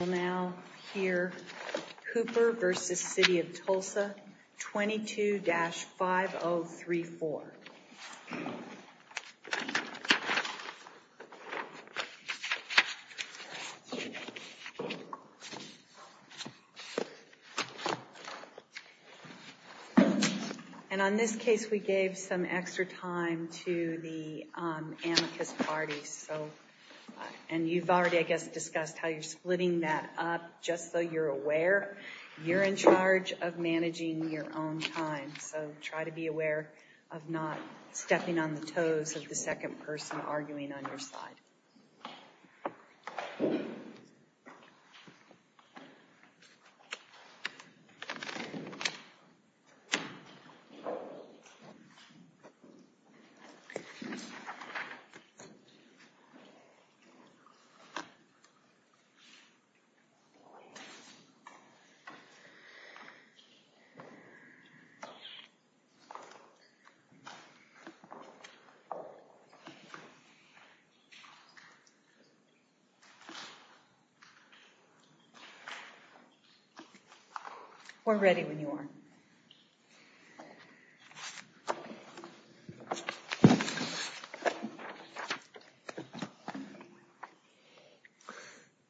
will now hear Cooper v. The City of Tulsa 22-5034. And on this case we gave some extra time to the amicus parties so, and you've already I guess discussed how you're splitting that up just so you're aware you're in charge of managing your own time so try to be aware of not stepping on the toes of the second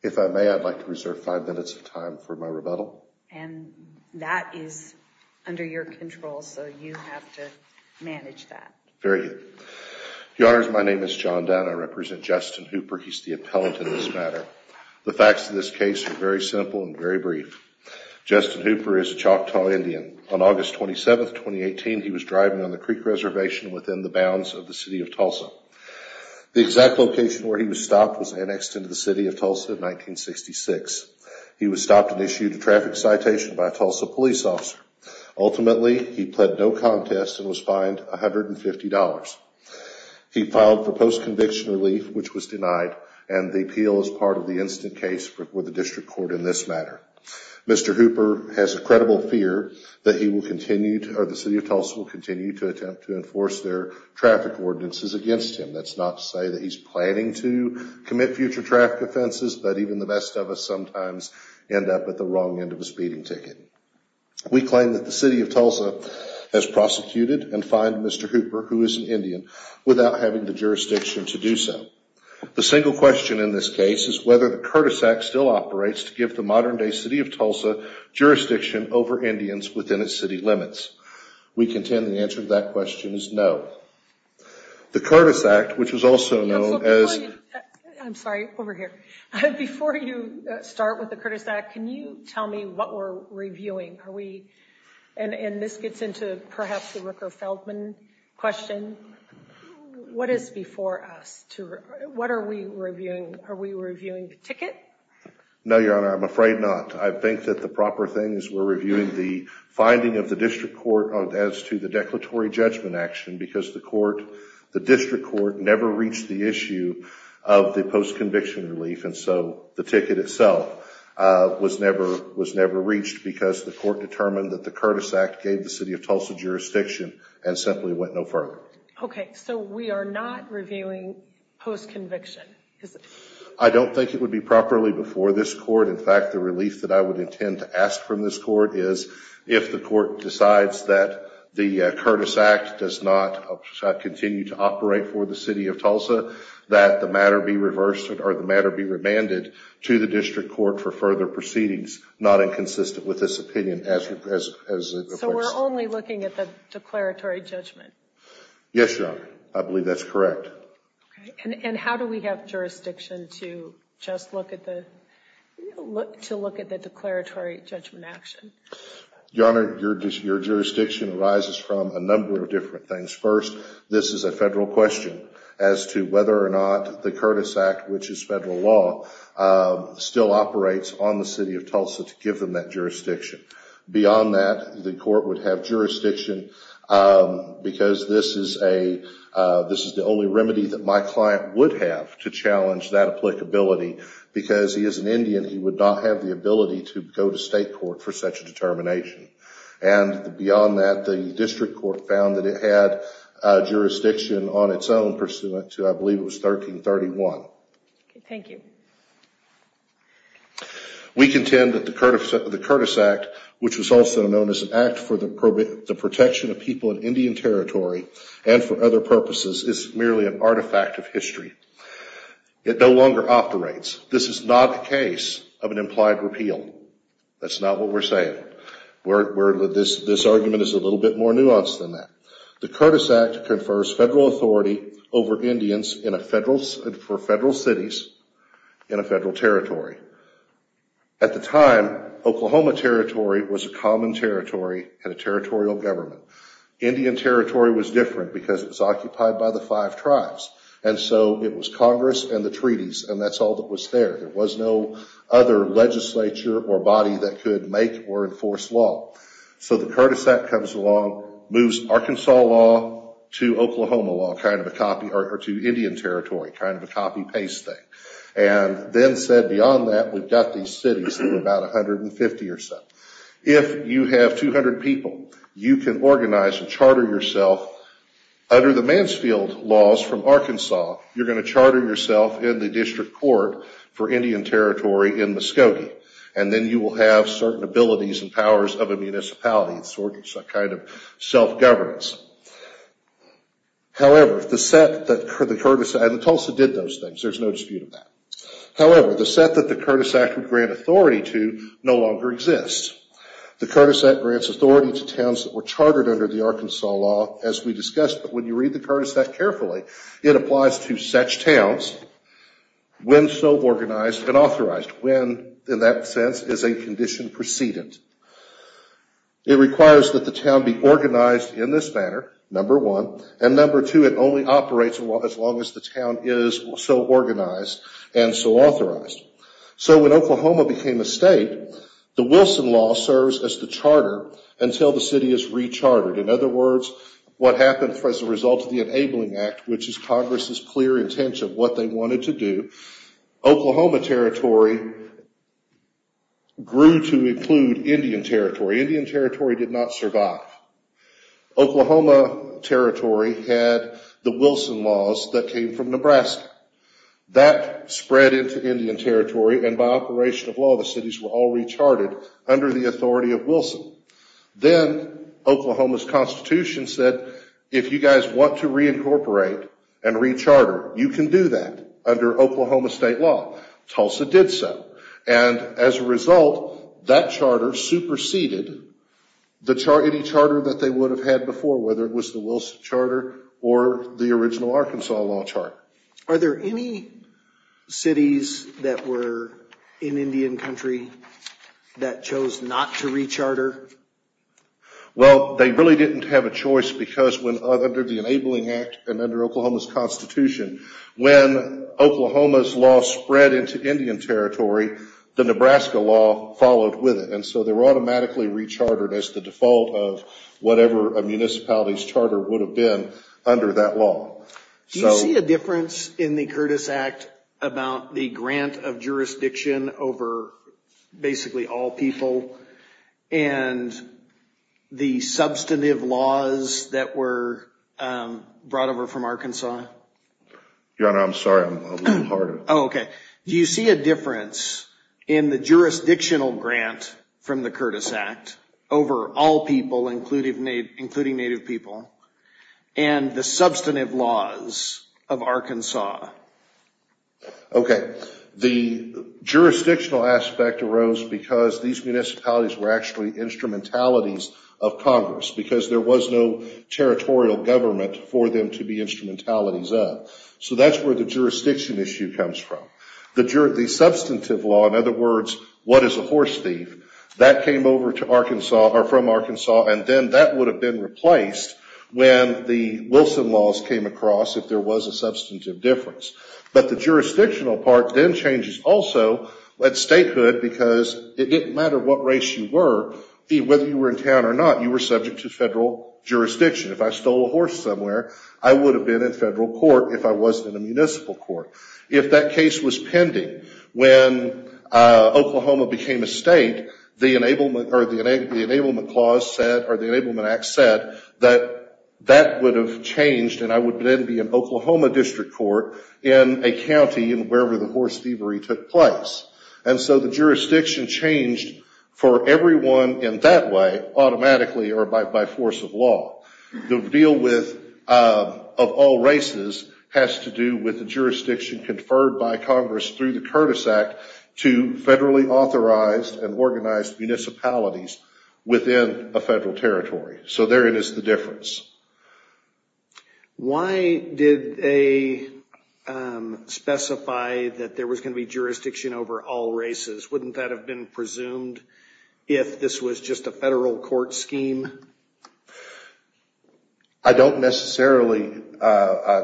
If I may, I'd like to reserve five minutes of time for my rebuttal. And that is under your control so you have to manage that. Very good. Your Honors, my name is John Dunn. I represent Justin Hooper. He's the appellant in this matter. The facts of this case are very simple and very brief. Justin Hooper is a Choctaw Indian. On August 27, 2018, he was driving on the creek reservation within the bounds of the City of Tulsa. The exact location where he was stopped was annexed into the City of Tulsa in 1966. He was stopped and issued a traffic citation by a Tulsa police officer. Ultimately, he pled no contest and was fined $150. He filed for post-conviction relief which was denied and the appeal is part of the instant case with the District Court in this matter. Mr. Hooper has a credible fear that he will continue to, or the City of Tulsa will continue to attempt to enforce their traffic ordinances against him. That's not to say that he's planning to commit future traffic offenses, but even the best of us sometimes end up at the wrong end of a speeding ticket. We claim that the City of Tulsa has prosecuted and fined Mr. Hooper, who is an Indian, without having the jurisdiction to do so. The single question in this case is whether the Curtis Act still operates to give the modern day City of Tulsa jurisdiction over Indians within its city limits. We contend the answer to that question is no. The Curtis Act, which is also known as... I'm sorry, over here. Before you start with the Curtis Act, can you tell me what we're reviewing? Are we, and this gets into perhaps the Rooker-Feldman question, what is before us? What are we reviewing? Are we reviewing the ticket? No, Your Honor, I'm afraid not. I think that the proper thing is we're reviewing the finding of the district court as to the declaratory judgment action because the court, the district court never reached the issue of the post-conviction relief and so the ticket itself was never reached because the court determined that the Curtis Act gave the City of Tulsa jurisdiction and simply went no further. Okay, so we are not reviewing post-conviction? I don't think it would be properly before this court. In fact, the relief that I would intend to ask from this court is if the court decides that the Curtis Act does not continue to operate for the City of Tulsa, that the matter be reversed or the matter be remanded to the district court for further proceedings not inconsistent with this opinion. So we're only looking at the declaratory judgment? Yes, Your Honor. I believe that's correct. And how do we have jurisdiction to just look at the, to look at the declaratory judgment action? Your Honor, your jurisdiction arises from a number of different things. First, this is a federal question as to whether or not the Curtis Act, which is federal law, still operates on the City of Tulsa to give them that jurisdiction. Beyond that, the court would have jurisdiction because this is a, this is the only remedy that my client would have to challenge that applicability because he is an Indian, he would not have the ability to go to state court for such a determination. And beyond that, the district court found that it had jurisdiction on its own pursuant to, I believe it was 1331. Okay, thank you. We contend that the Curtis Act, the Curtis Act, is not a federal act, which was also known as an act for the protection of people in Indian territory and for other purposes is merely an artifact of history. It no longer operates. This is not a case of an implied repeal. That's not what we're saying. We're, this argument is a little bit more nuanced than that. The Curtis Act confers federal authority over Indians in a federal, for federal cities in a federal territory. At the time, Oklahoma Territory was a common territory and a territorial government. Indian Territory was different because it was occupied by the five tribes. And so it was Congress and the treaties and that's all that was there. There was no other legislature or body that could make or enforce law. So the Curtis Act comes along, moves Arkansas law to Oklahoma law, kind of a copy, or to Indian Territory, kind of a copy-paste thing. And then said beyond that, we've got these 50 or so. If you have 200 people, you can organize and charter yourself under the Mansfield laws from Arkansas, you're going to charter yourself in the district court for Indian Territory in Muskogee. And then you will have certain abilities and powers of a municipality and sort of some kind of self-governance. However, the set that the Curtis Act, and Tulsa did those things, there's no dispute of that. However, the set that the Curtis Act would grant authority to no longer exists. The Curtis Act grants authority to towns that were chartered under the Arkansas law, as we discussed, but when you read the Curtis Act carefully, it applies to such towns when so organized and authorized. When, in that sense, is a condition precedent. It requires that the town be organized in this manner, number one. And number two, it only operates as long as the town is so organized and so when Oklahoma became a state, the Wilson Law serves as the charter until the city is re-chartered. In other words, what happened as a result of the Enabling Act, which is Congress's clear intention of what they wanted to do, Oklahoma Territory grew to include Indian Territory. Indian Territory did not survive. Oklahoma Territory had the Wilson Laws that came from Nebraska. That spread into Indian Territory and by operation of law the cities were all re-charted under the authority of Wilson. Then Oklahoma's Constitution said if you guys want to re-incorporate and re-charter, you can do that under Oklahoma state law. Tulsa did so. And as a result, that charter superseded any charter that they had under the Arkansas law charter. Are there any cities that were in Indian Country that chose not to re-charter? Well, they really didn't have a choice because under the Enabling Act and under Oklahoma's Constitution, when Oklahoma's law spread into Indian Territory, the Nebraska law followed with it. And so they were automatically re-chartered as the default of whatever a municipality's law. Do you see a difference in the Curtis Act about the grant of jurisdiction over basically all people and the substantive laws that were brought over from Arkansas? Your Honor, I'm sorry. I'm a little hard. Oh, okay. Do you see a difference in the jurisdictional grant from the Curtis Act over all people including Native people and the substantive laws of Arkansas? The jurisdictional aspect arose because these municipalities were actually instrumentalities of Congress because there was no territorial government for them to be instrumentalities of. So that's where the jurisdiction issue comes from. The substantive law, in other words, then that would have been replaced when the Wilson laws came across if there was a substantive difference. But the jurisdictional part then changes also at statehood because it didn't matter what race you were, whether you were in town or not, you were subject to federal jurisdiction. If I stole a horse somewhere, I would have been in federal court if I wasn't in a municipal court. If that case was pending, when Oklahoma became a state, the Enablement Clause said or the Enablement Act said that that would have changed and I would then be in Oklahoma District Court in a county in wherever the horse thievery took place. And so the jurisdiction changed for everyone in that way automatically or by force of law. The deal of all races has to do with the jurisdiction conferred by Congress through the Curtis Act to federally authorized and organized municipalities within a federal territory. So therein is the difference. Why did they specify that there was going to be jurisdiction over all races? Wouldn't that have been presumed if this was just a federal court scheme? I don't necessarily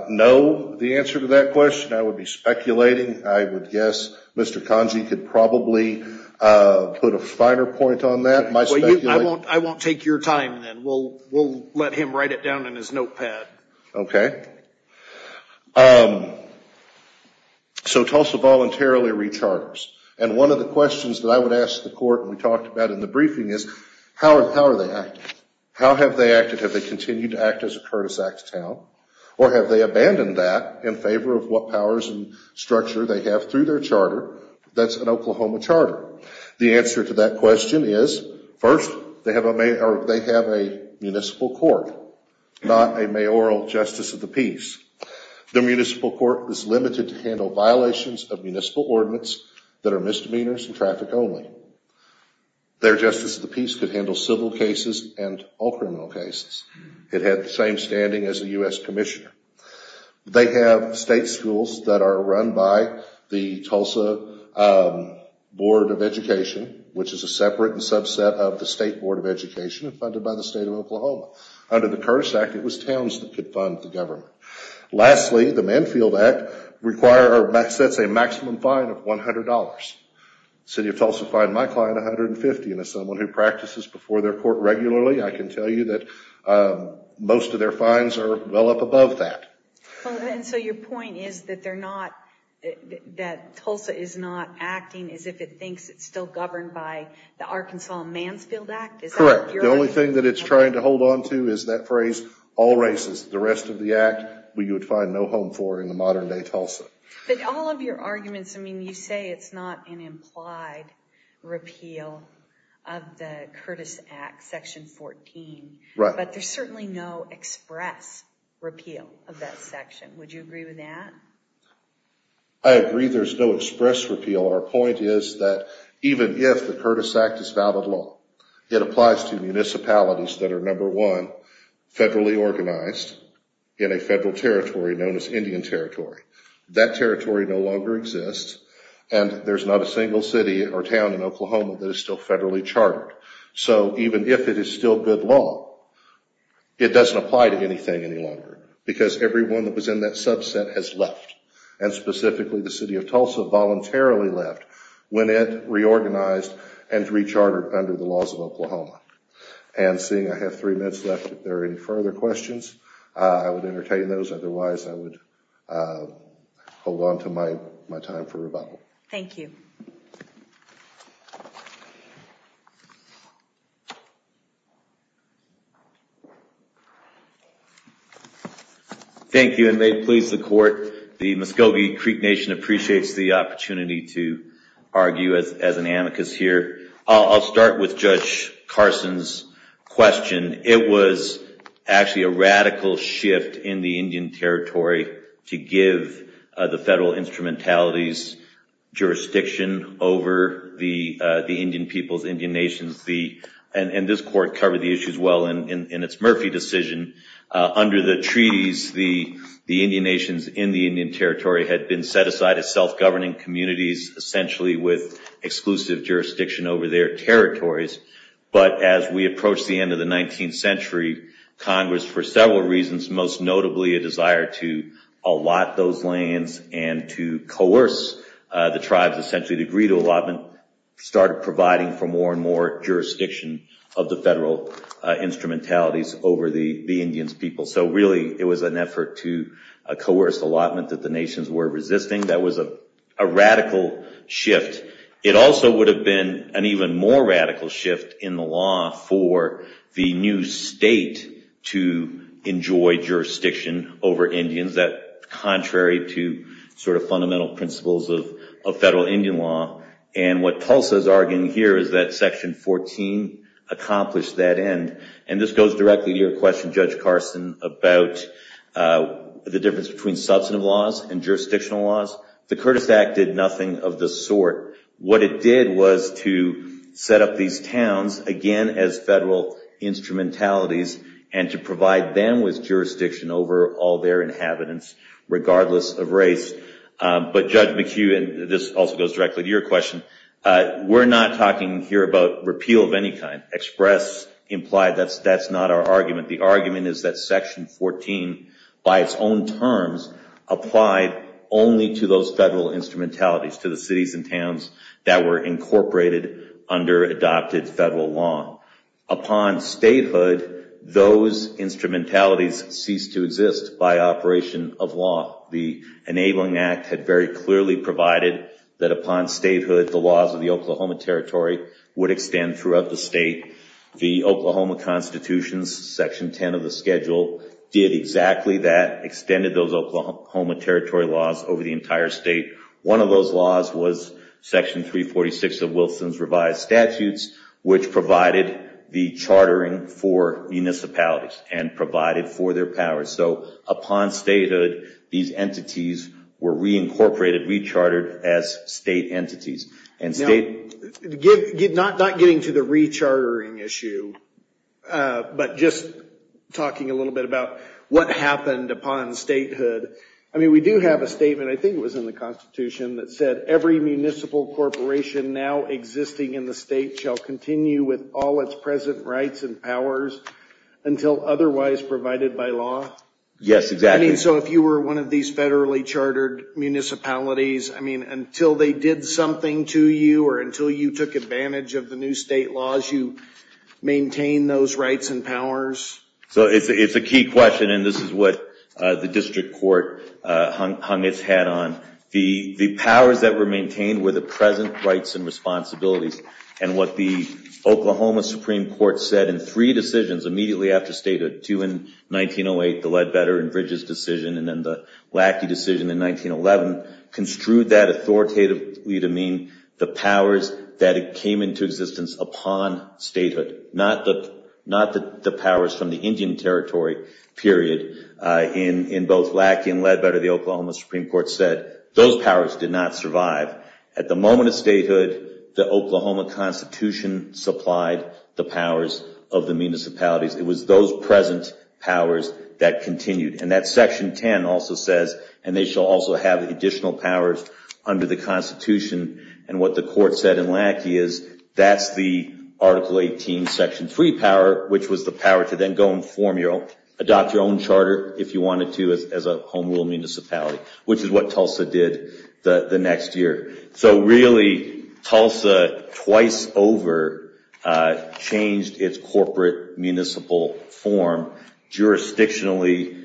know the answer to that question. I would be speculating. I would guess Mr. Congey could probably put a finer point on that. I won't take your time then. We'll let him write it down in his notepad. So Tulsa voluntarily recharges. And one of the questions that I would ask the court we talked about in the briefing is how are they acting? How have they acted? Have they continued to act as a Curtis Act town? Or have they abandoned that in favor of what powers and powers of the state? The answer to that question is first they have a municipal court, not a mayoral justice of the peace. The municipal court is limited to handle violations of municipal ordinance that are misdemeanors and traffic only. Their justice of the peace could handle civil cases and all criminal cases. It had the same standing as the U.S. Commissioner. They have state Tulsa Board of Education, which is a separate subset of the State Board of Education funded by the state of Oklahoma. Under the Curtis Act it was towns that could fund the government. Lastly, the Manfield Act requires or sets a maximum fine of $100. The City of Tulsa fined my client $150. And as someone who practices before their court regularly, I can tell you that most of their fines are well up above that. So your point is that they're not, that Tulsa is not acting as if it thinks it's still governed by the Arkansas Mansfield Act? Correct. The only thing that it's trying to hold onto is that phrase, all races. The rest of the act we would find no home for in the modern day Tulsa. But all of your arguments, I mean you say it's not an implied repeal of the Curtis Act Section 14, but there's certainly no express repeal of that section. Would you agree with that? I agree there's no express repeal. Our point is that even if the Curtis Act is valid law, it applies to municipalities that are number one, federally organized in a federal territory known as Indian Territory. That territory no longer exists and there's not a single city or town in Oklahoma that is still federally chartered. So even if it is still good law, it doesn't apply to anything any longer because everyone that was in that subset has left. And specifically the city of Tulsa voluntarily left when it reorganized and re-chartered under the laws of Oklahoma. And seeing I have three minutes left, if there are any further questions, I would entertain those. Otherwise, I would hold onto my time for rebuttal. Thank you. Thank you and may it please the court, the Muscogee Creek Nation appreciates the opportunity to argue as an amicus here. I'll start with Judge Carson's question. It was actually a radical shift in the Indian Territory to give the federal instrumentalities jurisdiction over the Indian peoples, Indian nations. And this court covered the issues well in its Murphy decision. Under the treaties, the Indian nations in the Indian Territory had been set aside as self-governing communities essentially with exclusive jurisdiction over their territories. But as we approach the end of the 19th century, Congress for several reasons, most notably a desire to allot those lands and to coerce the tribes essentially to agree to allotment, started providing for more and more jurisdiction of the federal instrumentalities over the Indian peoples. So really it was an effort to coerce allotment that the nations were in a radical shift in the law for the new state to enjoy jurisdiction over Indians that contrary to sort of fundamental principles of federal Indian law. And what Tulsa is arguing here is that section 14 accomplished that end. And this goes directly to your question Judge Carson about the difference between substantive laws and jurisdictional laws. The Curtis Act did nothing of the sort. What it did was to set up these towns again as federal instrumentalities and to provide them with jurisdiction over all their inhabitants regardless of race. But Judge McHugh, and this also goes directly to your question, we're not talking here about repeal of any kind. Express implied that's not our argument. The argument is that section 14 by its own terms applied only to those federal instrumentalities to the cities and towns that were incorporated under adopted federal law. Upon statehood those instrumentalities ceased to exist by operation of law. The enabling act had very clearly provided that upon statehood the laws of the Oklahoma Territory would extend throughout the state. The Oklahoma Constitution's section 10 of the schedule did exactly that, extended those Oklahoma Territory laws over the entire state. One of those laws was section 346 of Wilson's revised statutes which provided the chartering for municipalities and provided for their powers. So upon statehood these entities were reincorporated, rechartered as state entities. Now, not getting to the rechartering issue, but just talking a little bit about what happened upon statehood. I mean we do have a statement, I think it was in the Constitution, that said every municipal corporation now existing in the state shall continue with all its present rights and powers until otherwise provided by law. Yes, exactly. So if you were one of these federally chartered municipalities, I mean until they did something to you or until you took advantage of the new state laws, you maintained those rights and powers? So it's a key question and this is what the district court hung its hat on. The powers that were maintained were the present rights and responsibilities. And what the Oklahoma Supreme Court said in three decisions immediately after statehood, two in 1908, the Ledbetter and Bridges decision, and then the Lackey decision in 1911, construed that authoritatively to mean the powers that came into existence upon statehood, not the powers from the Indian Territory period. In both Lackey and Ledbetter, the Oklahoma Supreme Court said those powers did not survive. At the moment of statehood, the Oklahoma Constitution supplied the powers of the municipalities. It was those present powers that continued. And that Section 10 also says, and they shall also have additional powers under the Constitution. And what the court said in Lackey is that's the Article 18, Section 3 power, which was the power to then go and form your own, adopt your own charter if you wanted to as a home rule municipality, which is what Tulsa did the next year. So really, Tulsa twice over changed its corporate municipal form, jurisdictionally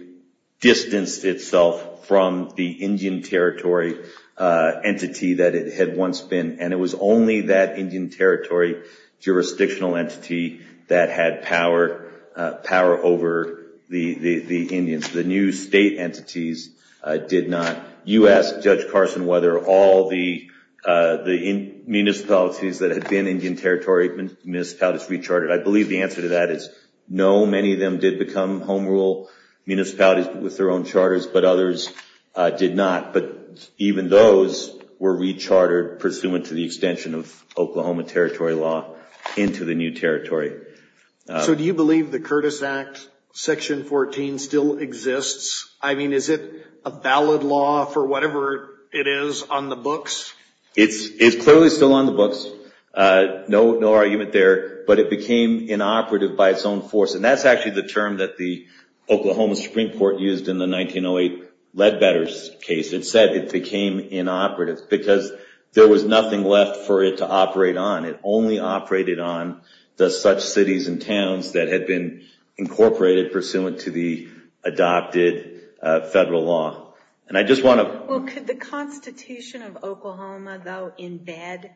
distanced itself from the Indian Territory entity that it had once been. And it was only that Indian Territory jurisdictional entity that had power over the Indians. The new state entities did not. You asked Judge Carson whether all the municipalities that had been Indian Territory municipalities re-chartered. I believe the answer to that is no. Many of them did become home rule municipalities with their own charters, but others did not. But even those were re-chartered pursuant to the extension of Oklahoma Territory law into the new territory. So do you believe the Curtis Act, Section 14 still exists? I mean, is it a valid law for whatever it is on the books? It's clearly still on the books. No argument there. But it became inoperative by its own force. And that's actually the term that the Oklahoma Supreme Court used in the 1908 Leadbetters case. It said it became inoperative because there was nothing left for it to operate on. It only operated on the such cities and towns that had been incorporated pursuant to the adopted federal law. Could the Constitution of Oklahoma, though, embed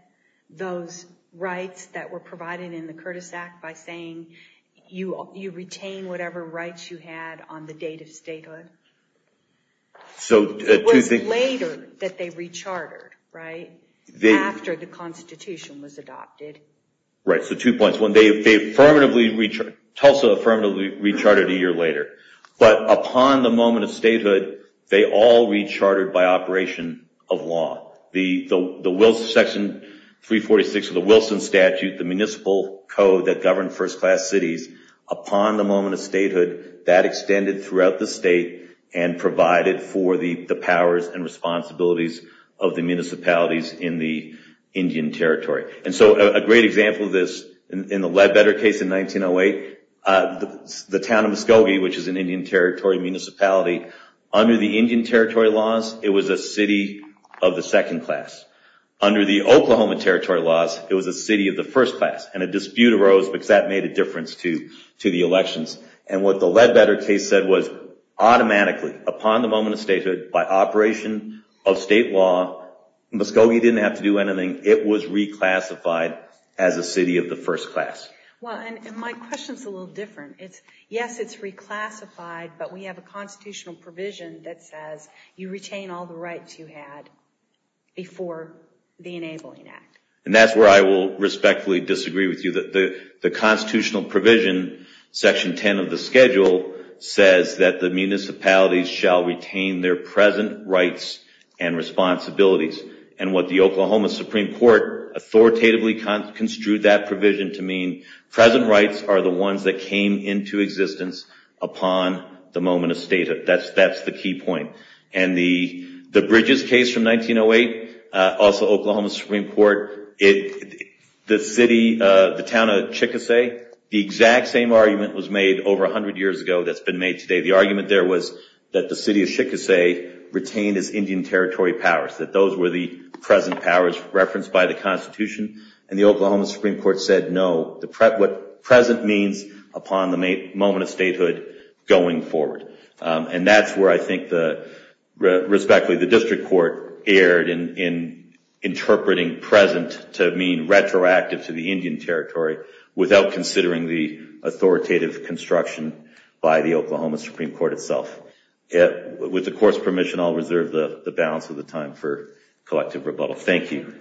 those rights that were provided in the Curtis Act by saying you retain whatever rights you had on the date of statehood? It was later that they re-chartered, right? After the Constitution was adopted. Right. So two points. Tulsa affirmatively re-chartered a year later. But upon the moment of statehood, they all re-chartered by operation of law. Section 346 of the Wilson Statute, the municipal code that governed first class cities, upon the moment of statehood, that was the responsibilities of the municipalities in the Indian Territory. And so a great example of this, in the Leadbetter case in 1908, the town of Muskogee, which is an Indian Territory municipality, under the Indian Territory laws, it was a city of the second class. Under the Oklahoma Territory laws, it was a city of the first class. And a dispute arose because that made a difference to the elections. And what the Leadbetter case said was, automatically, upon the moment of statehood, by operation of state law, Muskogee didn't have to do anything. It was re-classified as a city of the first class. Well, and my question's a little different. Yes, it's re-classified, but we have a constitutional provision that says you retain all the rights you had before the Enabling Act. And that's where I will respectfully disagree with you. The constitutional provision, section 10 of the schedule, says that the municipalities shall retain their present rights and responsibilities. And what the Oklahoma Supreme Court authoritatively construed that provision to mean, present rights are the ones that came into existence upon the moment of statehood. That's the key point. And the Bridges case from 1908, also Oklahoma State, over 100 years ago, that's been made today, the argument there was that the city of Chickasaw retained its Indian Territory powers, that those were the present powers referenced by the Constitution. And the Oklahoma Supreme Court said, no, what present means upon the moment of statehood going forward. And that's where I think, respectfully, the district court erred in interpreting present to mean retroactive to the Indian Territory without considering the authoritative construction by the Oklahoma Supreme Court itself. With the Court's permission, I'll reserve the balance of the time for collective rebuttal. Thank you.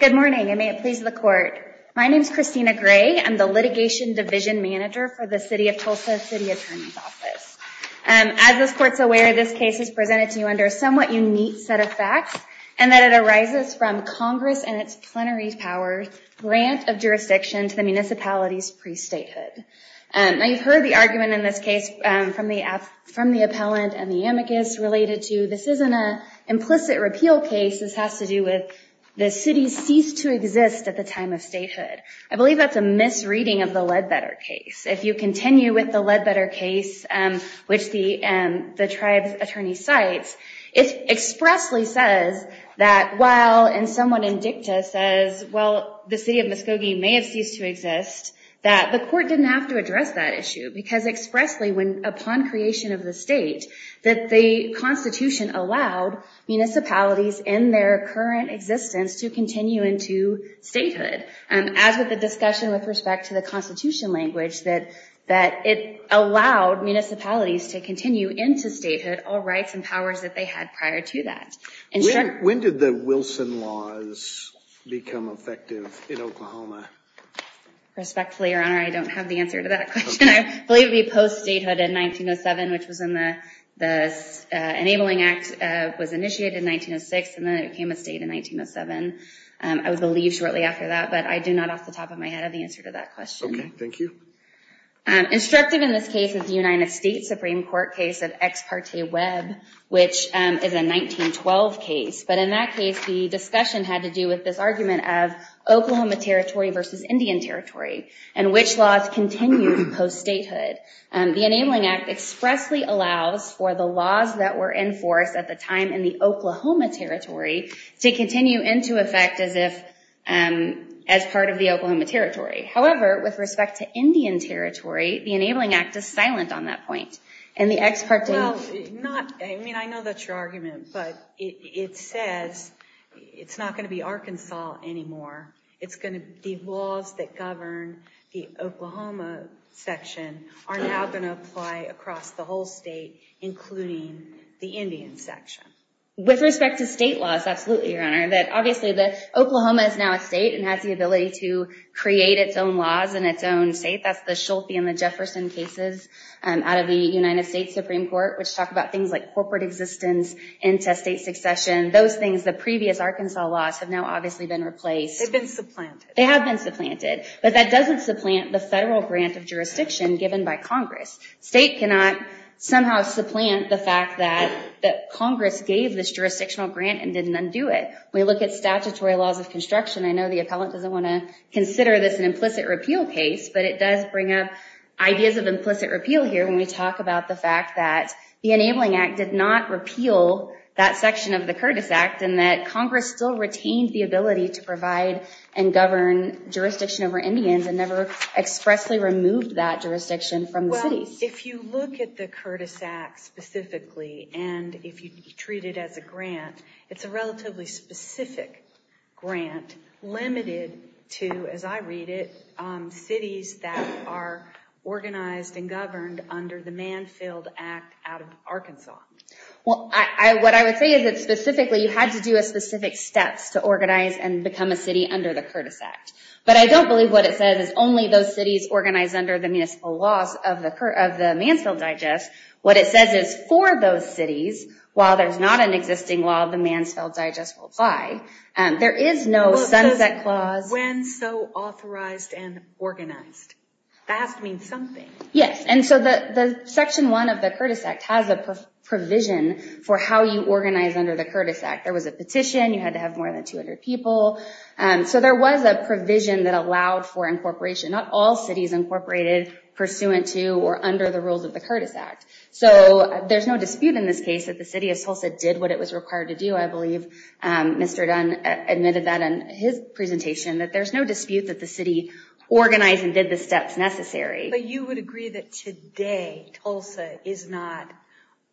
Good morning, and may it please the Court. My name is Christina Gray. I'm the Litigation Division Manager for the City of Tulsa City Attorney's Office. As this Court's aware, this case is presented to you under a somewhat unique set of facts, and that it arises from Congress and its plenary powers' grant of jurisdiction to the municipalities pre-statehood. Now, you've heard the argument in this case from the appellant and the amicus related to this isn't an implicit repeal case, this has to do with the city ceased to exist at the time of statehood. I believe that's a misreading of the Ledbetter case. If you continue with the Ledbetter case, which the tribe's attorney cites, it expressly says that while, and someone in dicta says, well, the City of Muskogee may have ceased to exist, that the Court didn't have to address that issue, because expressly, upon creation of the state, that the Constitution allowed municipalities in their current existence to continue into statehood. As with the discussion with respect to the Constitution language, that it allowed municipalities to continue into statehood, all rights and powers that they had prior to that. When did the Wilson laws become effective in Oklahoma? Respectfully, Your Honor, I don't have the answer to that question. I believe it would be post-statehood in 1907, which was when the Enabling Act was initiated in 1906, and then it became a state in 1907. I was relieved shortly after that, but I do not off the top of my head have the answer to that question. Okay, thank you. Instructive in this case is the United States Supreme Court case of Ex Parte Web, which is a 1912 case. But in that case, the discussion had to do with this argument of Oklahoma Territory versus Indian Territory, and which laws continued post-statehood. The Enabling Act expressly allows for the laws that were enforced at the time in the Oklahoma Territory to continue into effect as part of the Oklahoma Territory. However, with respect to Indian Territory, the Enabling Act is silent on that point. I mean, I know that's your argument, but it says it's not going to be Arkansas anymore. It's going to be laws that govern the Oklahoma section are now going to apply across the whole state, including the Indian section. With respect to state laws, absolutely, Your Honor. Obviously, Oklahoma is now a state and has the ability to create its own laws in its own state. That's the Schulte and the Jefferson cases out of the United States Supreme Court, which talk about things like corporate existence into state succession. Those things, the previous Arkansas laws, have now obviously been replaced. They've been supplanted. They have been supplanted, but that doesn't supplant the federal grant of jurisdiction given by Congress. State cannot somehow supplant the fact that Congress gave this jurisdictional grant and didn't undo it. We look at statutory laws of construction. I know the appellant doesn't want to consider this an implicit repeal case, but it does bring up ideas of implicit repeal here when we talk about the fact that the Enabling Act did not repeal that section of the Curtis Act and that Congress still retained the ability to provide and govern jurisdiction over Indians and never expressly removed that jurisdiction from the cities. If you look at the Curtis Act specifically and if you treat it as a grant, it's a relatively specific grant limited to, as I read it, cities that are organized and governed under the Manfield Act out of Arkansas. What I would say is that specifically, you had to do specific steps to organize and become a city under the Curtis Act, but I don't believe what it says is only those cities organized under the municipal laws of the Mansfield Digest. What it says is for those cities, while there's not an existing law, the Mansfield Digest will apply. There is no sunset clause. When so authorized and organized, that has to mean something. Yes. The section one of the Curtis Act has a provision for how you organize under the Mansfield Act. There was a provision that allowed for incorporation, not all cities incorporated pursuant to or under the rules of the Curtis Act. There's no dispute in this case that the city of Tulsa did what it was required to do. I believe Mr. Dunn admitted that in his presentation, that there's no dispute that the city organized and did the steps necessary. You would agree that today Tulsa is not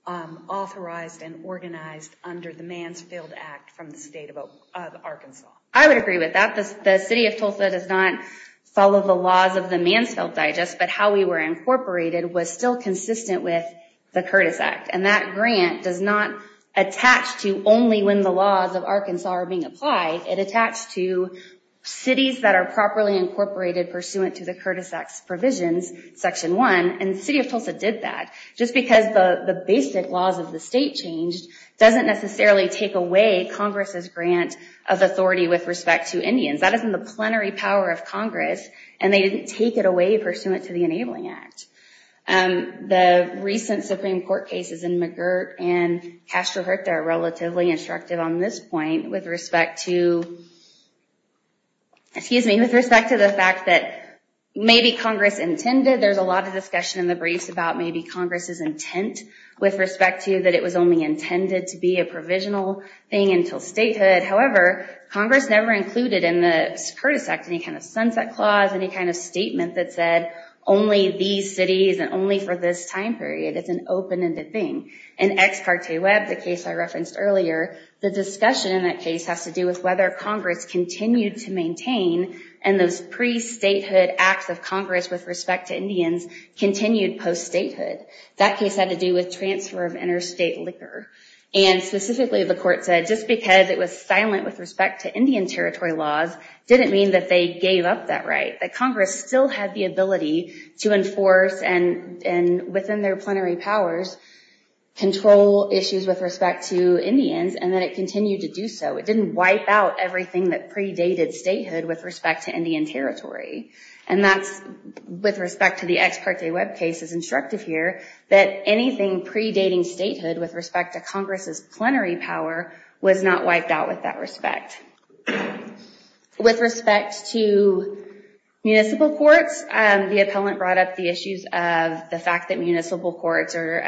authorized and organized under the Mansfield Act from the state of Arkansas? I would agree with that. The city of Tulsa does not follow the laws of the Mansfield Digest, but how we were incorporated was still consistent with the Curtis Act. That grant does not attach to only when the laws of Arkansas are being applied. It attached to cities that are properly incorporated pursuant to the Curtis Act's provisions, section one, and the city of Tulsa did that. Just because the basic laws of the state changed doesn't necessarily take away Congress's consent of authority with respect to Indians. That is in the plenary power of Congress, and they didn't take it away pursuant to the Enabling Act. The recent Supreme Court cases in McGirt and Castro-Hurta are relatively instructive on this point with respect to the fact that maybe Congress intended, there's a lot of discussion in the briefs about maybe Congress's intent with respect to that it was only intended to be a provisional thing until statehood. However, Congress never included in the Curtis Act any kind of sunset clause, any kind of statement that said only these cities and only for this time period. It's an open-ended thing. In Ex Carte Web, the case I referenced earlier, the discussion in that case has to do with whether Congress continued to maintain, and those pre-statehood acts of Congress with respect to Indians continued post-statehood. That case had to do with transfer of interstate liquor, and specifically the court said just because it was silent with respect to Indian territory laws didn't mean that they gave up that right. That Congress still had the ability to enforce, and within their plenary powers, control issues with respect to Indians, and that it continued to do so. It didn't wipe out everything that predated statehood with respect to Indian territory, and that's with respect to the Ex Carte Web case is instructive here that anything predating statehood with respect to Congress's plenary power was not wiped out with that respect. With respect to municipal courts, the appellant brought up the issues of the fact that municipal courts are,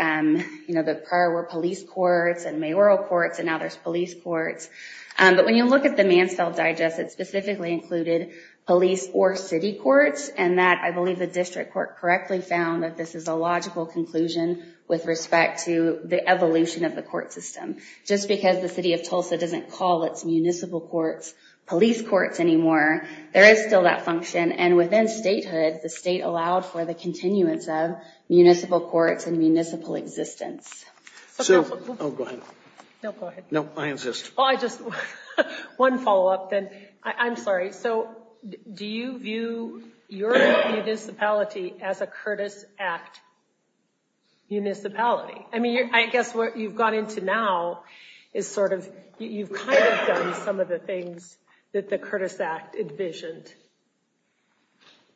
you know, the prior were police courts and mayoral courts, and now there's police courts, but when you look at the Mansfield Digest, it specifically included police or city courts, and that I believe the district court correctly found that this is a logical conclusion with respect to the evolution of the court system. Just because the city of Tulsa doesn't call its municipal courts police courts anymore, there is still that function, and within statehood, the state allowed for the continuance of municipal courts and municipal existence. Oh, go ahead. No, go ahead. No, I insist. Oh, I just... One follow-up, then. I'm sorry. All right, so do you view your municipality as a Curtis Act municipality? I mean, I guess what you've gone into now is sort of, you've kind of done some of the things that the Curtis Act envisioned,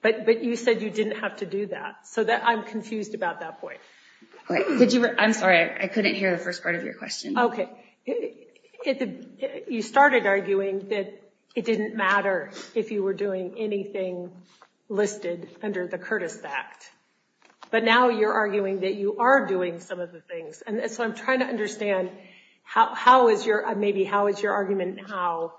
but you said you didn't have to do that. So I'm confused about that point. Did you... I'm sorry. I couldn't hear the first part of your question. Okay. So you started arguing that it didn't matter if you were doing anything listed under the Curtis Act, but now you're arguing that you are doing some of the things, and so I'm trying to understand how is your... Maybe how is your argument now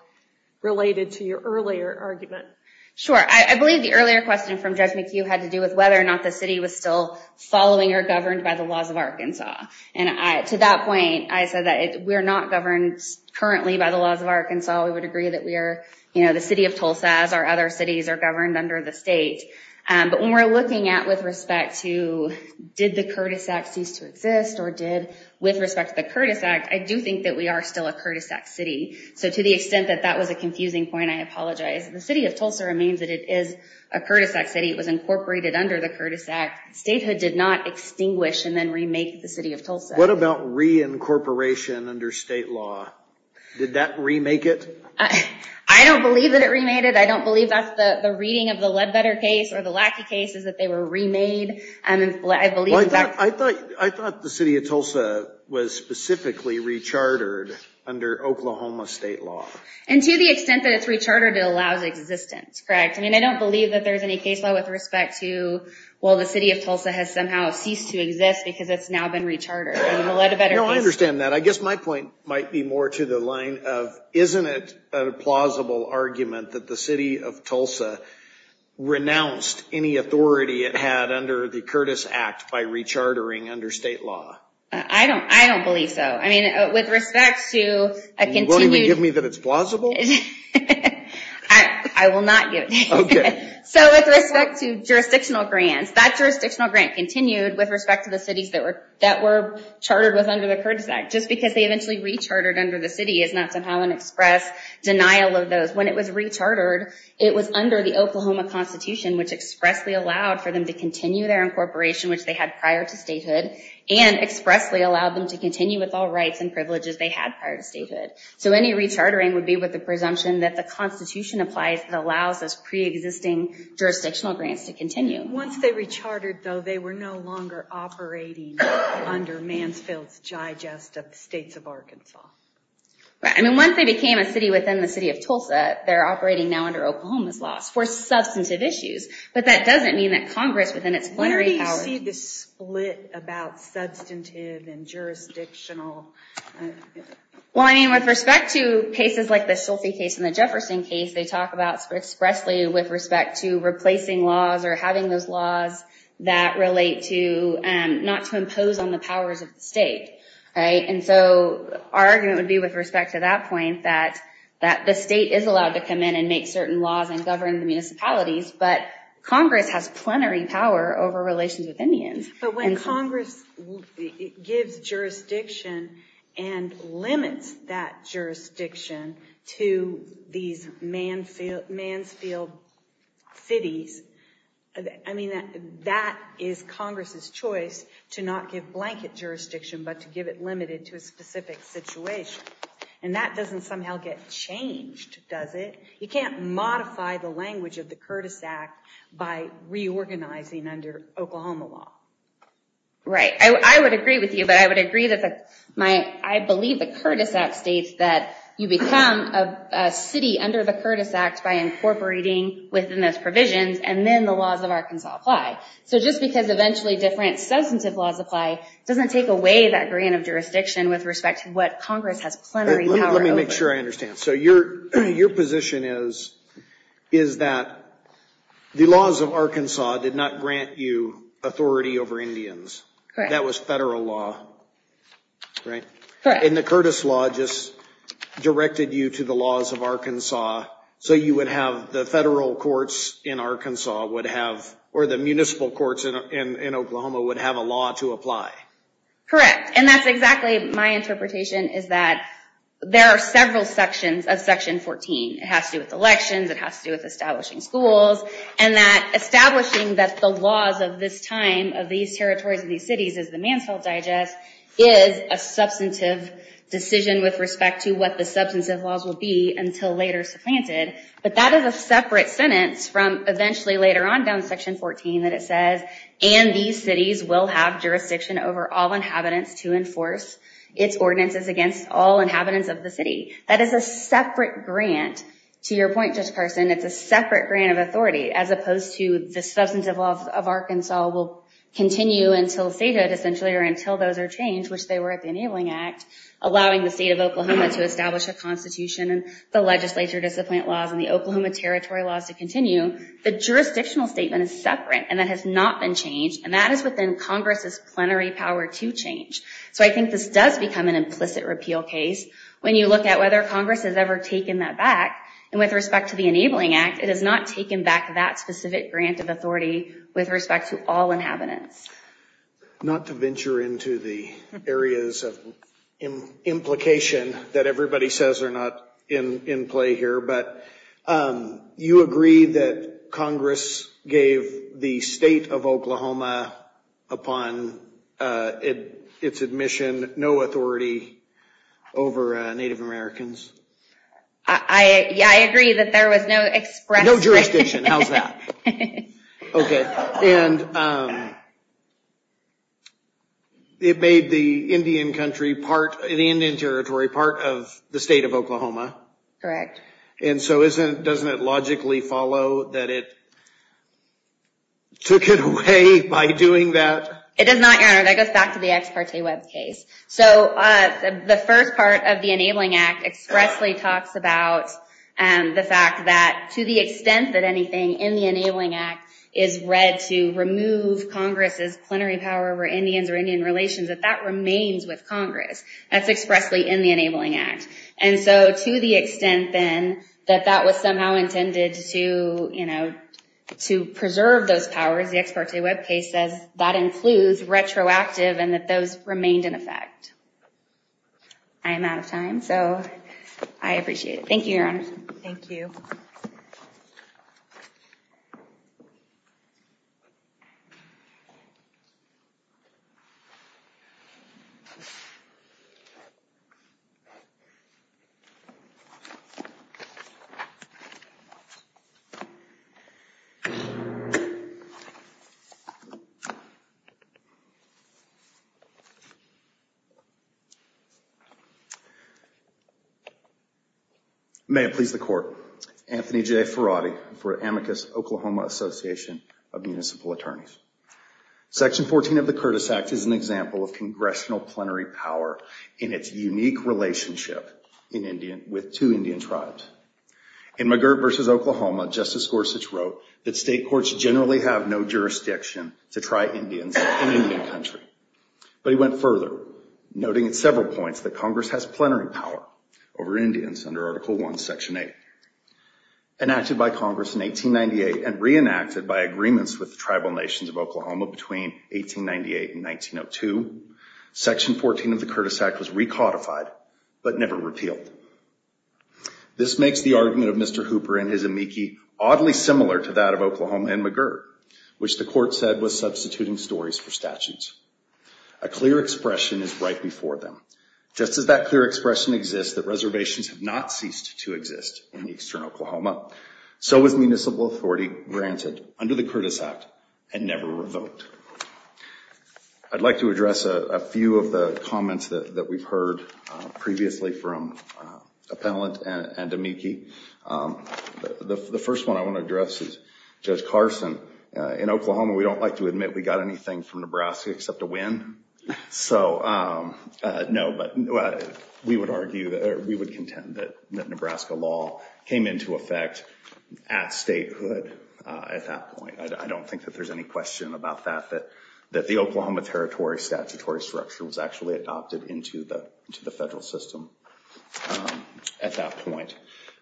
related to your earlier argument? Sure. I believe the earlier question from Judge McHugh had to do with whether or not the city was still following or governed by the laws of Arkansas, and to that point, I said that we're not governed currently by the laws of Arkansas. We would agree that we are the city of Tulsa, as our other cities are governed under the state. But when we're looking at with respect to did the Curtis Act cease to exist, or did with respect to the Curtis Act, I do think that we are still a Curtis Act city. So to the extent that that was a confusing point, I apologize. The city of Tulsa remains that it is a Curtis Act city. It was incorporated under the Curtis Act. Statehood did not extinguish and then remake the city of Tulsa. What about reincorporation under state law? Did that remake it? I don't believe that it remade it. I don't believe that's the reading of the Ledbetter case or the Lackey case is that they were remade. I believe in fact... I thought the city of Tulsa was specifically rechartered under Oklahoma state law. And to the extent that it's rechartered, it allows existence, correct? I mean, I don't believe that there's any case law with respect to, well, the city of Tulsa has somehow ceased to exist because it's now been rechartered in the Ledbetter case. No, I understand that. I guess my point might be more to the line of, isn't it a plausible argument that the city of Tulsa renounced any authority it had under the Curtis Act by rechartering under state law? I don't believe so. I mean, with respect to a continued... You won't even give me that it's plausible? I will not give it to you. Okay. So with respect to jurisdictional grants, that jurisdictional grant continued with respect to the cities that were chartered with under the Curtis Act. Just because they eventually rechartered under the city is not somehow an express denial of those. When it was rechartered, it was under the Oklahoma Constitution, which expressly allowed for them to continue their incorporation, which they had prior to statehood, and expressly allowed them to continue with all rights and privileges they had prior to statehood. So any rechartering would be with the presumption that the Constitution applies that allows those pre-existing jurisdictional grants to continue. Once they rechartered, though, they were no longer operating under Mansfield's gigest of the states of Arkansas. Right. I mean, once they became a city within the city of Tulsa, they're operating now under Oklahoma's laws for substantive issues, but that doesn't mean that Congress within its plenary power... Where do you see the split about substantive and jurisdictional... Well, I mean, with respect to cases like the Schulte case and the Jefferson case, they talk about expressly with respect to replacing laws or having those laws that relate to not to impose on the powers of the state, right? And so our argument would be with respect to that point that the state is allowed to come in and make certain laws and govern the municipalities, but Congress has plenary power over relations with Indians. But when Congress gives jurisdiction and limits that jurisdiction to these Mansfield cities, I mean, that is Congress's choice to not give blanket jurisdiction, but to give it limited to a specific situation. And that doesn't somehow get changed, does it? You can't modify the language of the Curtis Act by reorganizing under Oklahoma law. Right. I would agree with you, but I would agree that I believe the Curtis Act states that you become a city under the Curtis Act by incorporating within those provisions and then the laws of Arkansas apply. So just because eventually different substantive laws apply doesn't take away that grant of jurisdiction with respect to what Congress has plenary power over. Let me make sure I understand. So your position is that the laws of Arkansas did not grant you authority over Indians. That was federal law, right? And the Curtis law just directed you to the laws of Arkansas, so you would have the federal courts in Arkansas would have, or the municipal courts in Oklahoma would have a law to apply. Correct. And that's exactly my interpretation, is that there are several sections of Section 14. It has to do with elections, it has to do with establishing schools, and that establishing that the laws of this time, of these territories, of these cities, is the Mansfield Digest, is a substantive decision with respect to what the substantive laws will be until later supplanted. But that is a separate sentence from eventually later on down Section 14 that it says, and these cities will have jurisdiction over all inhabitants to enforce its ordinances against all inhabitants of the city. That is a separate grant. To your point, Judge Carson, it's a separate grant of authority, as opposed to the substantive laws of Arkansas will continue until statehood, essentially, or until those are changed, which they were at the Enabling Act, allowing the state of Oklahoma to establish a constitution and the legislature discipline laws and the Oklahoma territory laws to continue. The jurisdictional statement is separate, and that has not been changed, and that is within Congress's plenary power to change. So I think this does become an implicit repeal case when you look at whether Congress has ever taken that back, and with respect to the Enabling Act, it has not taken back that specific grant of authority with respect to all inhabitants. Not to venture into the areas of implication that everybody says are not in play here, but you agree that Congress gave the state of Oklahoma, upon its admission, no authority over Native Americans? I agree that there was no express... No jurisdiction, how's that? And it made the Indian country part, the Indian territory part of the state of Oklahoma. Correct. And so doesn't it logically follow that it took it away by doing that? It does not, Your Honor. That goes back to the Ex Parte Web case. So the first part of the Enabling Act expressly talks about the fact that, to the extent that anything in the Enabling Act is read to remove Congress's plenary power over Indians or Indian relations, that that remains with Congress. That's expressly in the Enabling Act. And so to the extent, then, that that was somehow intended to preserve those powers, the Ex Parte Web case says that includes retroactive and that those remained in effect. I am out of time, so I appreciate it. Thank you, Your Honor. Thank you. May it please the Court, Anthony J. Ferrati for Amicus Oklahoma Association of Municipal Attorneys. Section 14 of the Curtis Act is an example of congressional plenary power in its unique relationship in Indian, with two Indian tribes. In McGirt v. Oklahoma, Justice Gorsuch wrote that state courts generally have no jurisdiction to try Indians in Indian country, but he went further, noting at several points that Congress has plenary power over Indians under Article I, Section 8. Enacted by Congress in 1898 and reenacted by agreements with the tribal nations of Oklahoma between 1898 and 1902, Section 14 of the Curtis Act was recodified, but never repealed. This makes the argument of Mr. Hooper and his amici oddly similar to that of Oklahoma and McGirt, which the Court said was substituting stories for statutes. A clear expression is right before them. Just as that clear expression exists that reservations have not ceased to exist in eastern Oklahoma, so was municipal authority granted under the Curtis Act and never revoked. I'd like to address a few of the comments that we've heard previously from appellant and amici. The first one I want to address is Judge Carson. In Oklahoma, we don't like to admit we got anything from Nebraska except a win. We would contend that Nebraska law came into effect at statehood at that point. I don't think that there's any question about that, that the Oklahoma Territory statutory structure was actually adopted into the federal system at that point.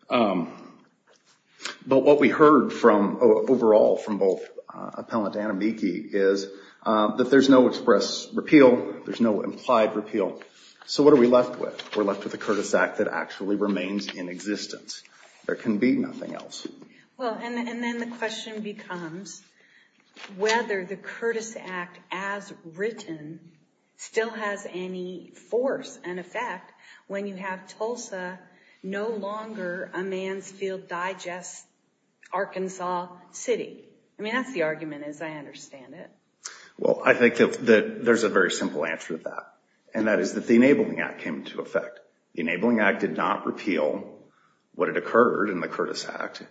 But what we heard overall from both appellant and amici is that there's no express repeal, there's no implied repeal. So what are we left with? We're left with a Curtis Act that actually remains in existence. There can be nothing else. Well, and then the question becomes whether the Curtis Act as written still has any force and effect when you have Tulsa no longer a Mansfield Digest, Arkansas city. I mean, that's the argument as I understand it. Well, I think that there's a very simple answer to that, and that is that the Enabling Act came into effect. The Enabling Act did not repeal what had occurred in the Curtis Act,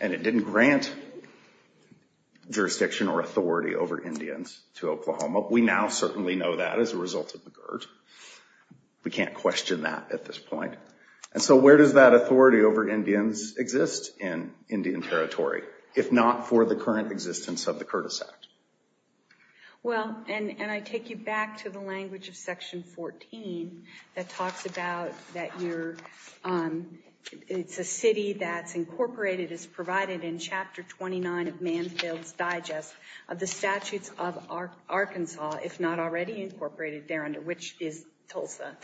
and it didn't grant jurisdiction or authority over Indians to Oklahoma. We now certainly know that as a result of the GERD. We can't question that at this point. And so where does that authority over Indians exist in Indian Territory if not for the current existence of the Curtis Act? Well, and I take you back to the language of Section 14 that talks about that you're, it's a city that's incorporated as provided in Chapter 29 of Mansfield's Digest of the Arkansas, if not already incorporated there under which is Tulsa,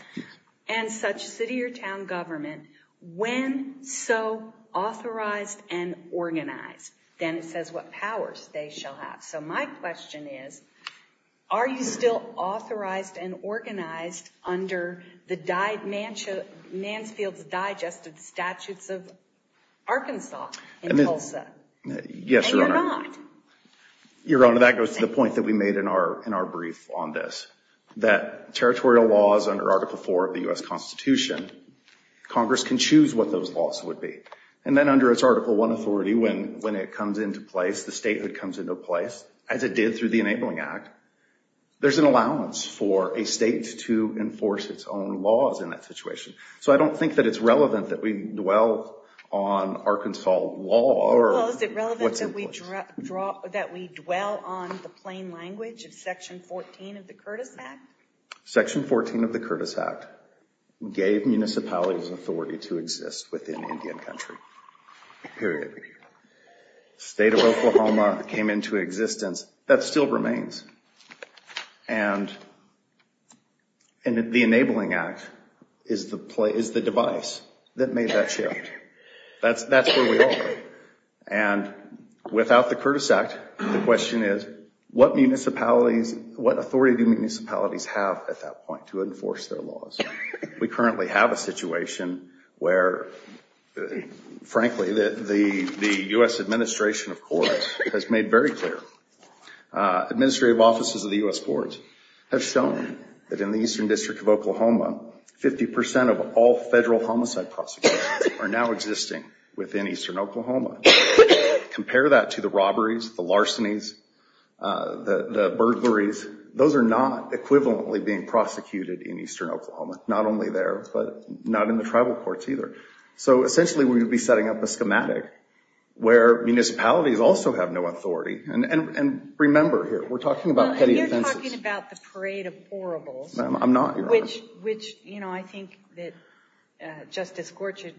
and such city or town government, when so authorized and organized, then it says what powers they shall have. So my question is, are you still authorized and organized under the Mansfield's Digest of the Statutes of Arkansas in Tulsa? Yes, Your Honor. Your Honor, that goes to the point that we made in our brief on this, that territorial laws under Article 4 of the U.S. Constitution, Congress can choose what those laws would be. And then under its Article 1 authority, when it comes into place, the statehood comes into place, as it did through the Enabling Act, there's an allowance for a state to enforce its own laws in that situation. So I don't think that it's relevant that we dwell on Arkansas law or what's in Tulsa. Well, is it relevant that we dwell on the plain language of Section 14 of the Curtis Act? Section 14 of the Curtis Act gave municipalities authority to exist within Indian Country. State of Oklahoma came into existence, that still remains. And the Enabling Act is the device that made that change. That's where we are. And without the Curtis Act, the question is, what municipalities, what authority do municipalities have at that point to enforce their laws? We currently have a situation where, frankly, the U.S. administration, of course, has made very clear, administrative offices of the U.S. courts have shown that in the Eastern Oklahoma, compare that to the robberies, the larcenies, the burglaries, those are not equivalently being prosecuted in Eastern Oklahoma. Not only there, but not in the tribal courts either. So essentially, we would be setting up a schematic where municipalities also have no authority. And remember here, we're talking about petty offenses. Well, you're talking about the Parade of Horribles, which I think that Justice Gorsuch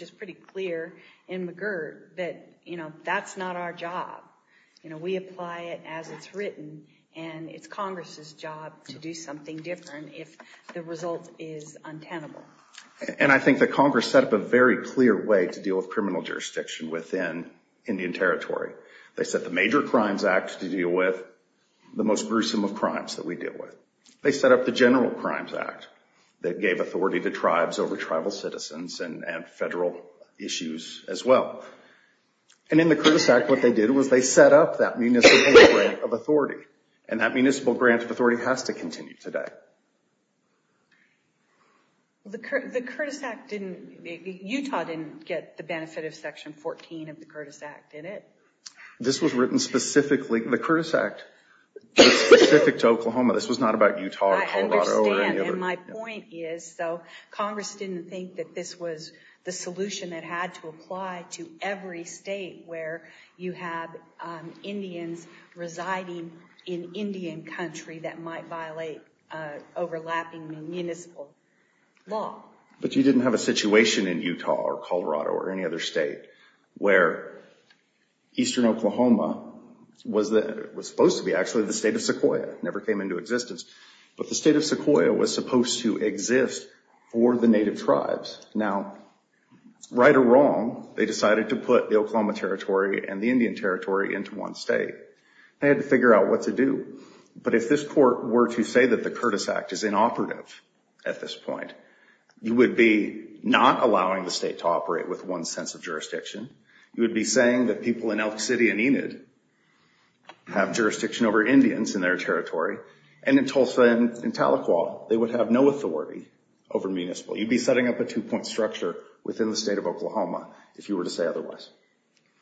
was pretty clear in McGirt that that's not our job. We apply it as it's written, and it's Congress's job to do something different if the result is untenable. And I think that Congress set up a very clear way to deal with criminal jurisdiction within Indian Territory. They set the Major Crimes Act to deal with the most gruesome of crimes that we deal with. They set up the General Crimes Act that gave authority to tribes over tribal citizens and federal issues as well. And in the Curtis Act, what they did was they set up that municipal grant of authority. And that municipal grant of authority has to continue today. The Curtis Act didn't...Utah didn't get the benefit of Section 14 of the Curtis Act, did it? This was written specifically...the Curtis Act was specific to Oklahoma. This was not about Utah, Colorado, or any other... And my point is, so Congress didn't think that this was the solution that had to apply to every state where you have Indians residing in Indian Country that might violate overlapping municipal law. But you didn't have a situation in Utah or Colorado or any other state where Eastern Oklahoma was supposed to be actually the state of Sequoia, never came into existence. But the state of Sequoia was supposed to exist for the native tribes. Now, right or wrong, they decided to put the Oklahoma Territory and the Indian Territory into one state. They had to figure out what to do. But if this court were to say that the Curtis Act is inoperative at this point, you would be not allowing the state to operate with one sense of jurisdiction. You would be saying that people in Elk City and Enid have jurisdiction over Indians in their municipals, and in Tahlequah, they would have no authority over municipal. You'd be setting up a two-point structure within the state of Oklahoma if you were to say otherwise.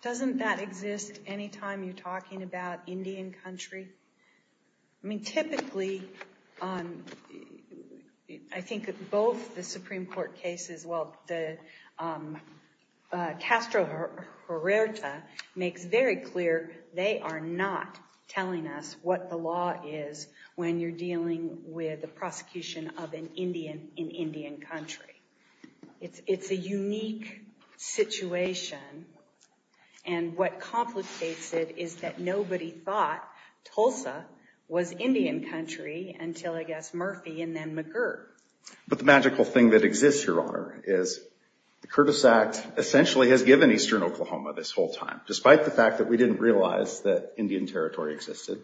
Doesn't that exist any time you're talking about Indian Country? I mean, typically, I think both the Supreme Court cases, well, Castro-Hurerta makes very clear, they are not telling us what the law is when you're dealing with the prosecution of an Indian in Indian Country. It's a unique situation, and what complicates it is that nobody thought Tulsa was Indian Country until, I guess, Murphy and then McGurk. But the magical thing that exists, Your Honor, is the Curtis Act essentially has given Eastern this whole time. Despite the fact that we didn't realize that Indian Territory existed,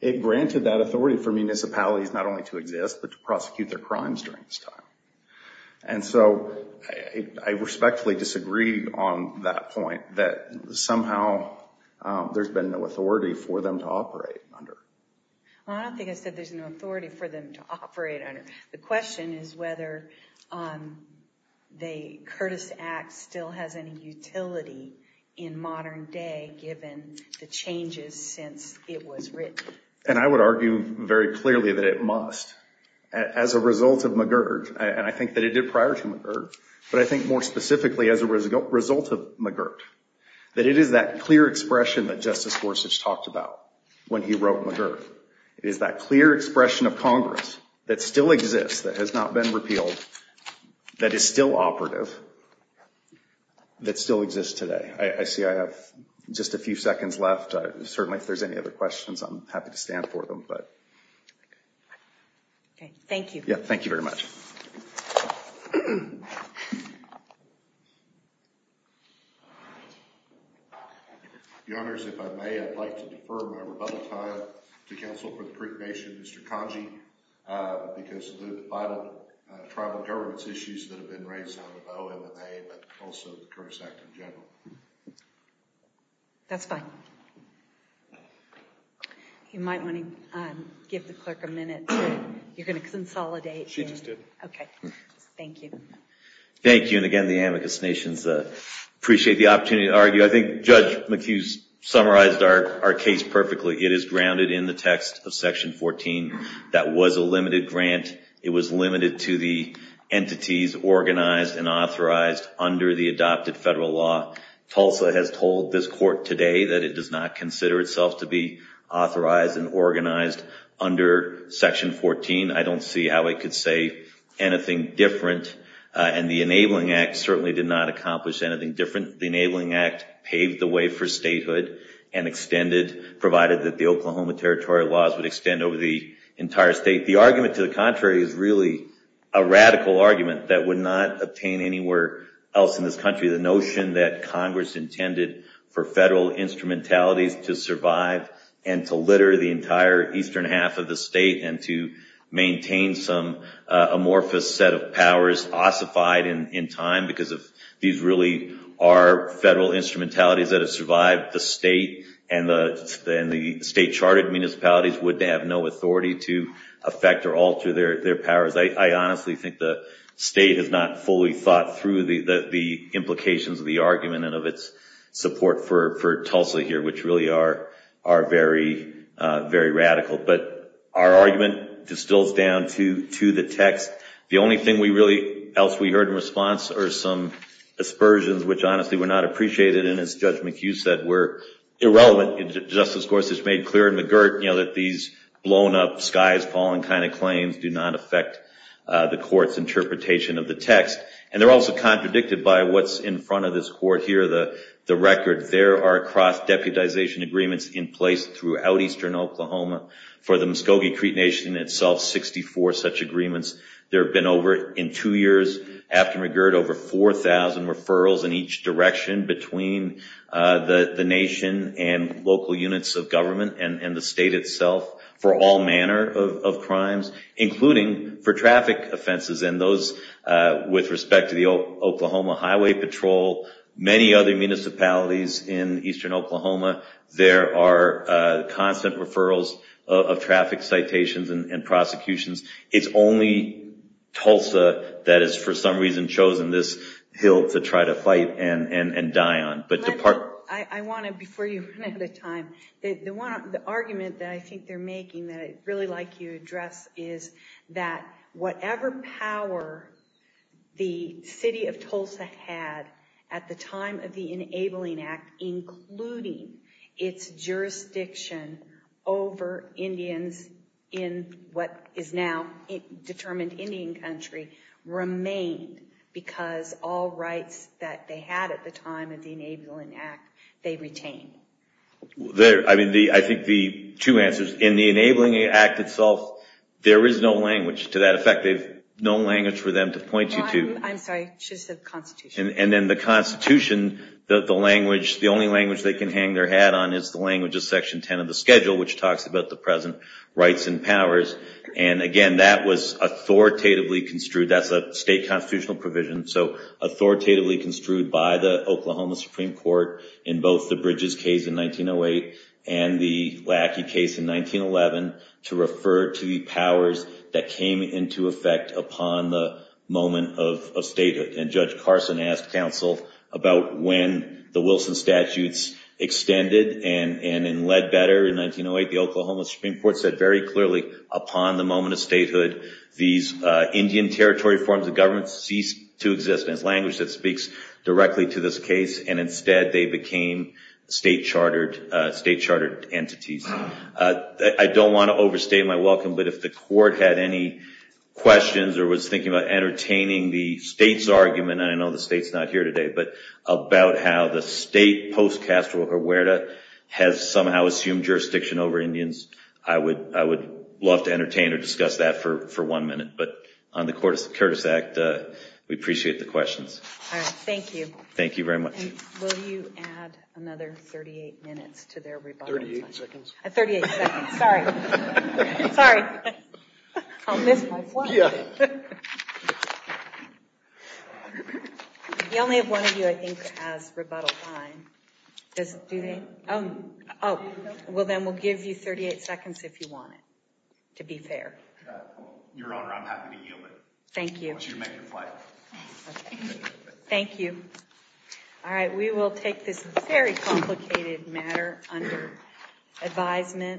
it granted that authority for municipalities not only to exist, but to prosecute their crimes during this time. And so, I respectfully disagree on that point, that somehow there's been no authority for them to operate under. I don't think I said there's no authority for them to operate under. The question is whether the Curtis Act still has any utility in modern day given the changes since it was written. And I would argue very clearly that it must. As a result of McGurk, and I think that it did prior to McGurk, but I think more specifically as a result of McGurk, that it is that clear expression that Justice Gorsuch talked about when he wrote McGurk. It is that clear expression of Congress that still exists, that has not been repealed, that is still operative, that still exists today. I see I have just a few seconds left. Certainly, if there's any other questions, I'm happy to stand for them. Okay. Thank you. Yeah. Thank you very much. Your Honors, if I may, I'd like to defer my rebuttal time to counsel for the Creek Nation, Mr. Congey, because of the vital tribal government's issues that have been raised on OMA, but also the Curtis Act in general. That's fine. You might want to give the clerk a minute. You're going to consolidate. She just did. Okay. Thank you. Thank you. And again, the Amicus Nations appreciate the opportunity to argue. I think Judge McHugh summarized our case perfectly. It is grounded in the text of Section 14. That was a limited grant. It was limited to the entities organized and authorized under the adopted federal law. Tulsa has told this court today that it does not consider itself to be authorized and organized under Section 14. I don't see how it could say anything different, and the Enabling Act certainly did not accomplish anything different. The Enabling Act paved the way for statehood and extended, provided that the Oklahoma Territory laws would extend over the entire state. The argument to the contrary is really a radical argument that would not obtain anywhere else in this country. The notion that Congress intended for federal instrumentalities to survive and to litter the entire eastern half of the state and to maintain some amorphous set of powers ossified in time because these really are federal instrumentalities that have survived the state and the state charted municipalities would have no authority to affect or alter their powers. I honestly think the state has not fully thought through the implications of the argument and of its support for Tulsa here, which really are very, very radical. But our argument distills down to the text. The only thing else we heard in response are some aspersions, which honestly were not appreciated and, as Judge McHugh said, were irrelevant. Justice Gorsuch made clear in McGirt that these blown up, skies falling kind of claims do not affect the court's interpretation of the text. They're also contradicted by what's in front of this court here, the record. There are cross-deputization agreements in place throughout eastern Oklahoma for the Muscogee Creek Nation itself, 64 such agreements. There have been over, in two years, after McGirt, over 4,000 referrals in each direction between the nation and local units of government and the state itself for all manner of crimes, including for traffic offenses and those with respect to the Oklahoma Highway Patrol, many other municipalities in eastern Oklahoma. There are constant referrals of traffic citations and prosecutions. It's only Tulsa that has, for some reason, chosen this hill to try to fight and die on. I want to, before you run out of time, the argument that I think they're making that really like you address is that whatever power the city of Tulsa had at the time of the Enabling Act, including its jurisdiction over Indians in what is now determined Indian country, remained because all rights that they had at the time of the Enabling Act, they retained. I think the two answers. In the Enabling Act itself, there is no language to that effect. There's no language for them to point you to. I'm sorry, she said Constitution. And then the Constitution, the only language they can hang their hat on is the language of Section 10 of the Schedule, which talks about the present rights and powers. And again, that was authoritatively construed. That's a state constitutional provision, so authoritatively construed by the Oklahoma Supreme Court in both the Bridges case in 1908 and the Lackey case in 1911 to refer to the powers that came into effect upon the moment of statehood. And Judge Carson asked counsel about when the Wilson statutes extended and led better in 1908. The Oklahoma Supreme Court said very clearly, upon the moment of statehood, these Indian territory forms of government ceased to exist. And it's language that speaks directly to this case. And instead, they became state chartered entities. I don't want to overstate my welcome, but if the court had any questions or was thinking about entertaining the state's argument, and I know the state's not here today, but about how the state post-Castro Huerta has somehow assumed jurisdiction over Indians, I would love to entertain or discuss that for one minute. But on the Curtis Act, we appreciate the questions. All right, thank you. Thank you very much. And will you add another 38 minutes to their rebuttal time? 38 seconds. 38 seconds, sorry. Sorry. I'll miss my flight. Yeah. The only one of you, I think, has rebuttal time. Does, do they? Oh, well, then we'll give you 38 seconds if you want it, to be fair. Your Honor, I'm happy to yield it. Thank you. I want you to make your flight. Thank you. All right, we will take this very complicated matter under advisement.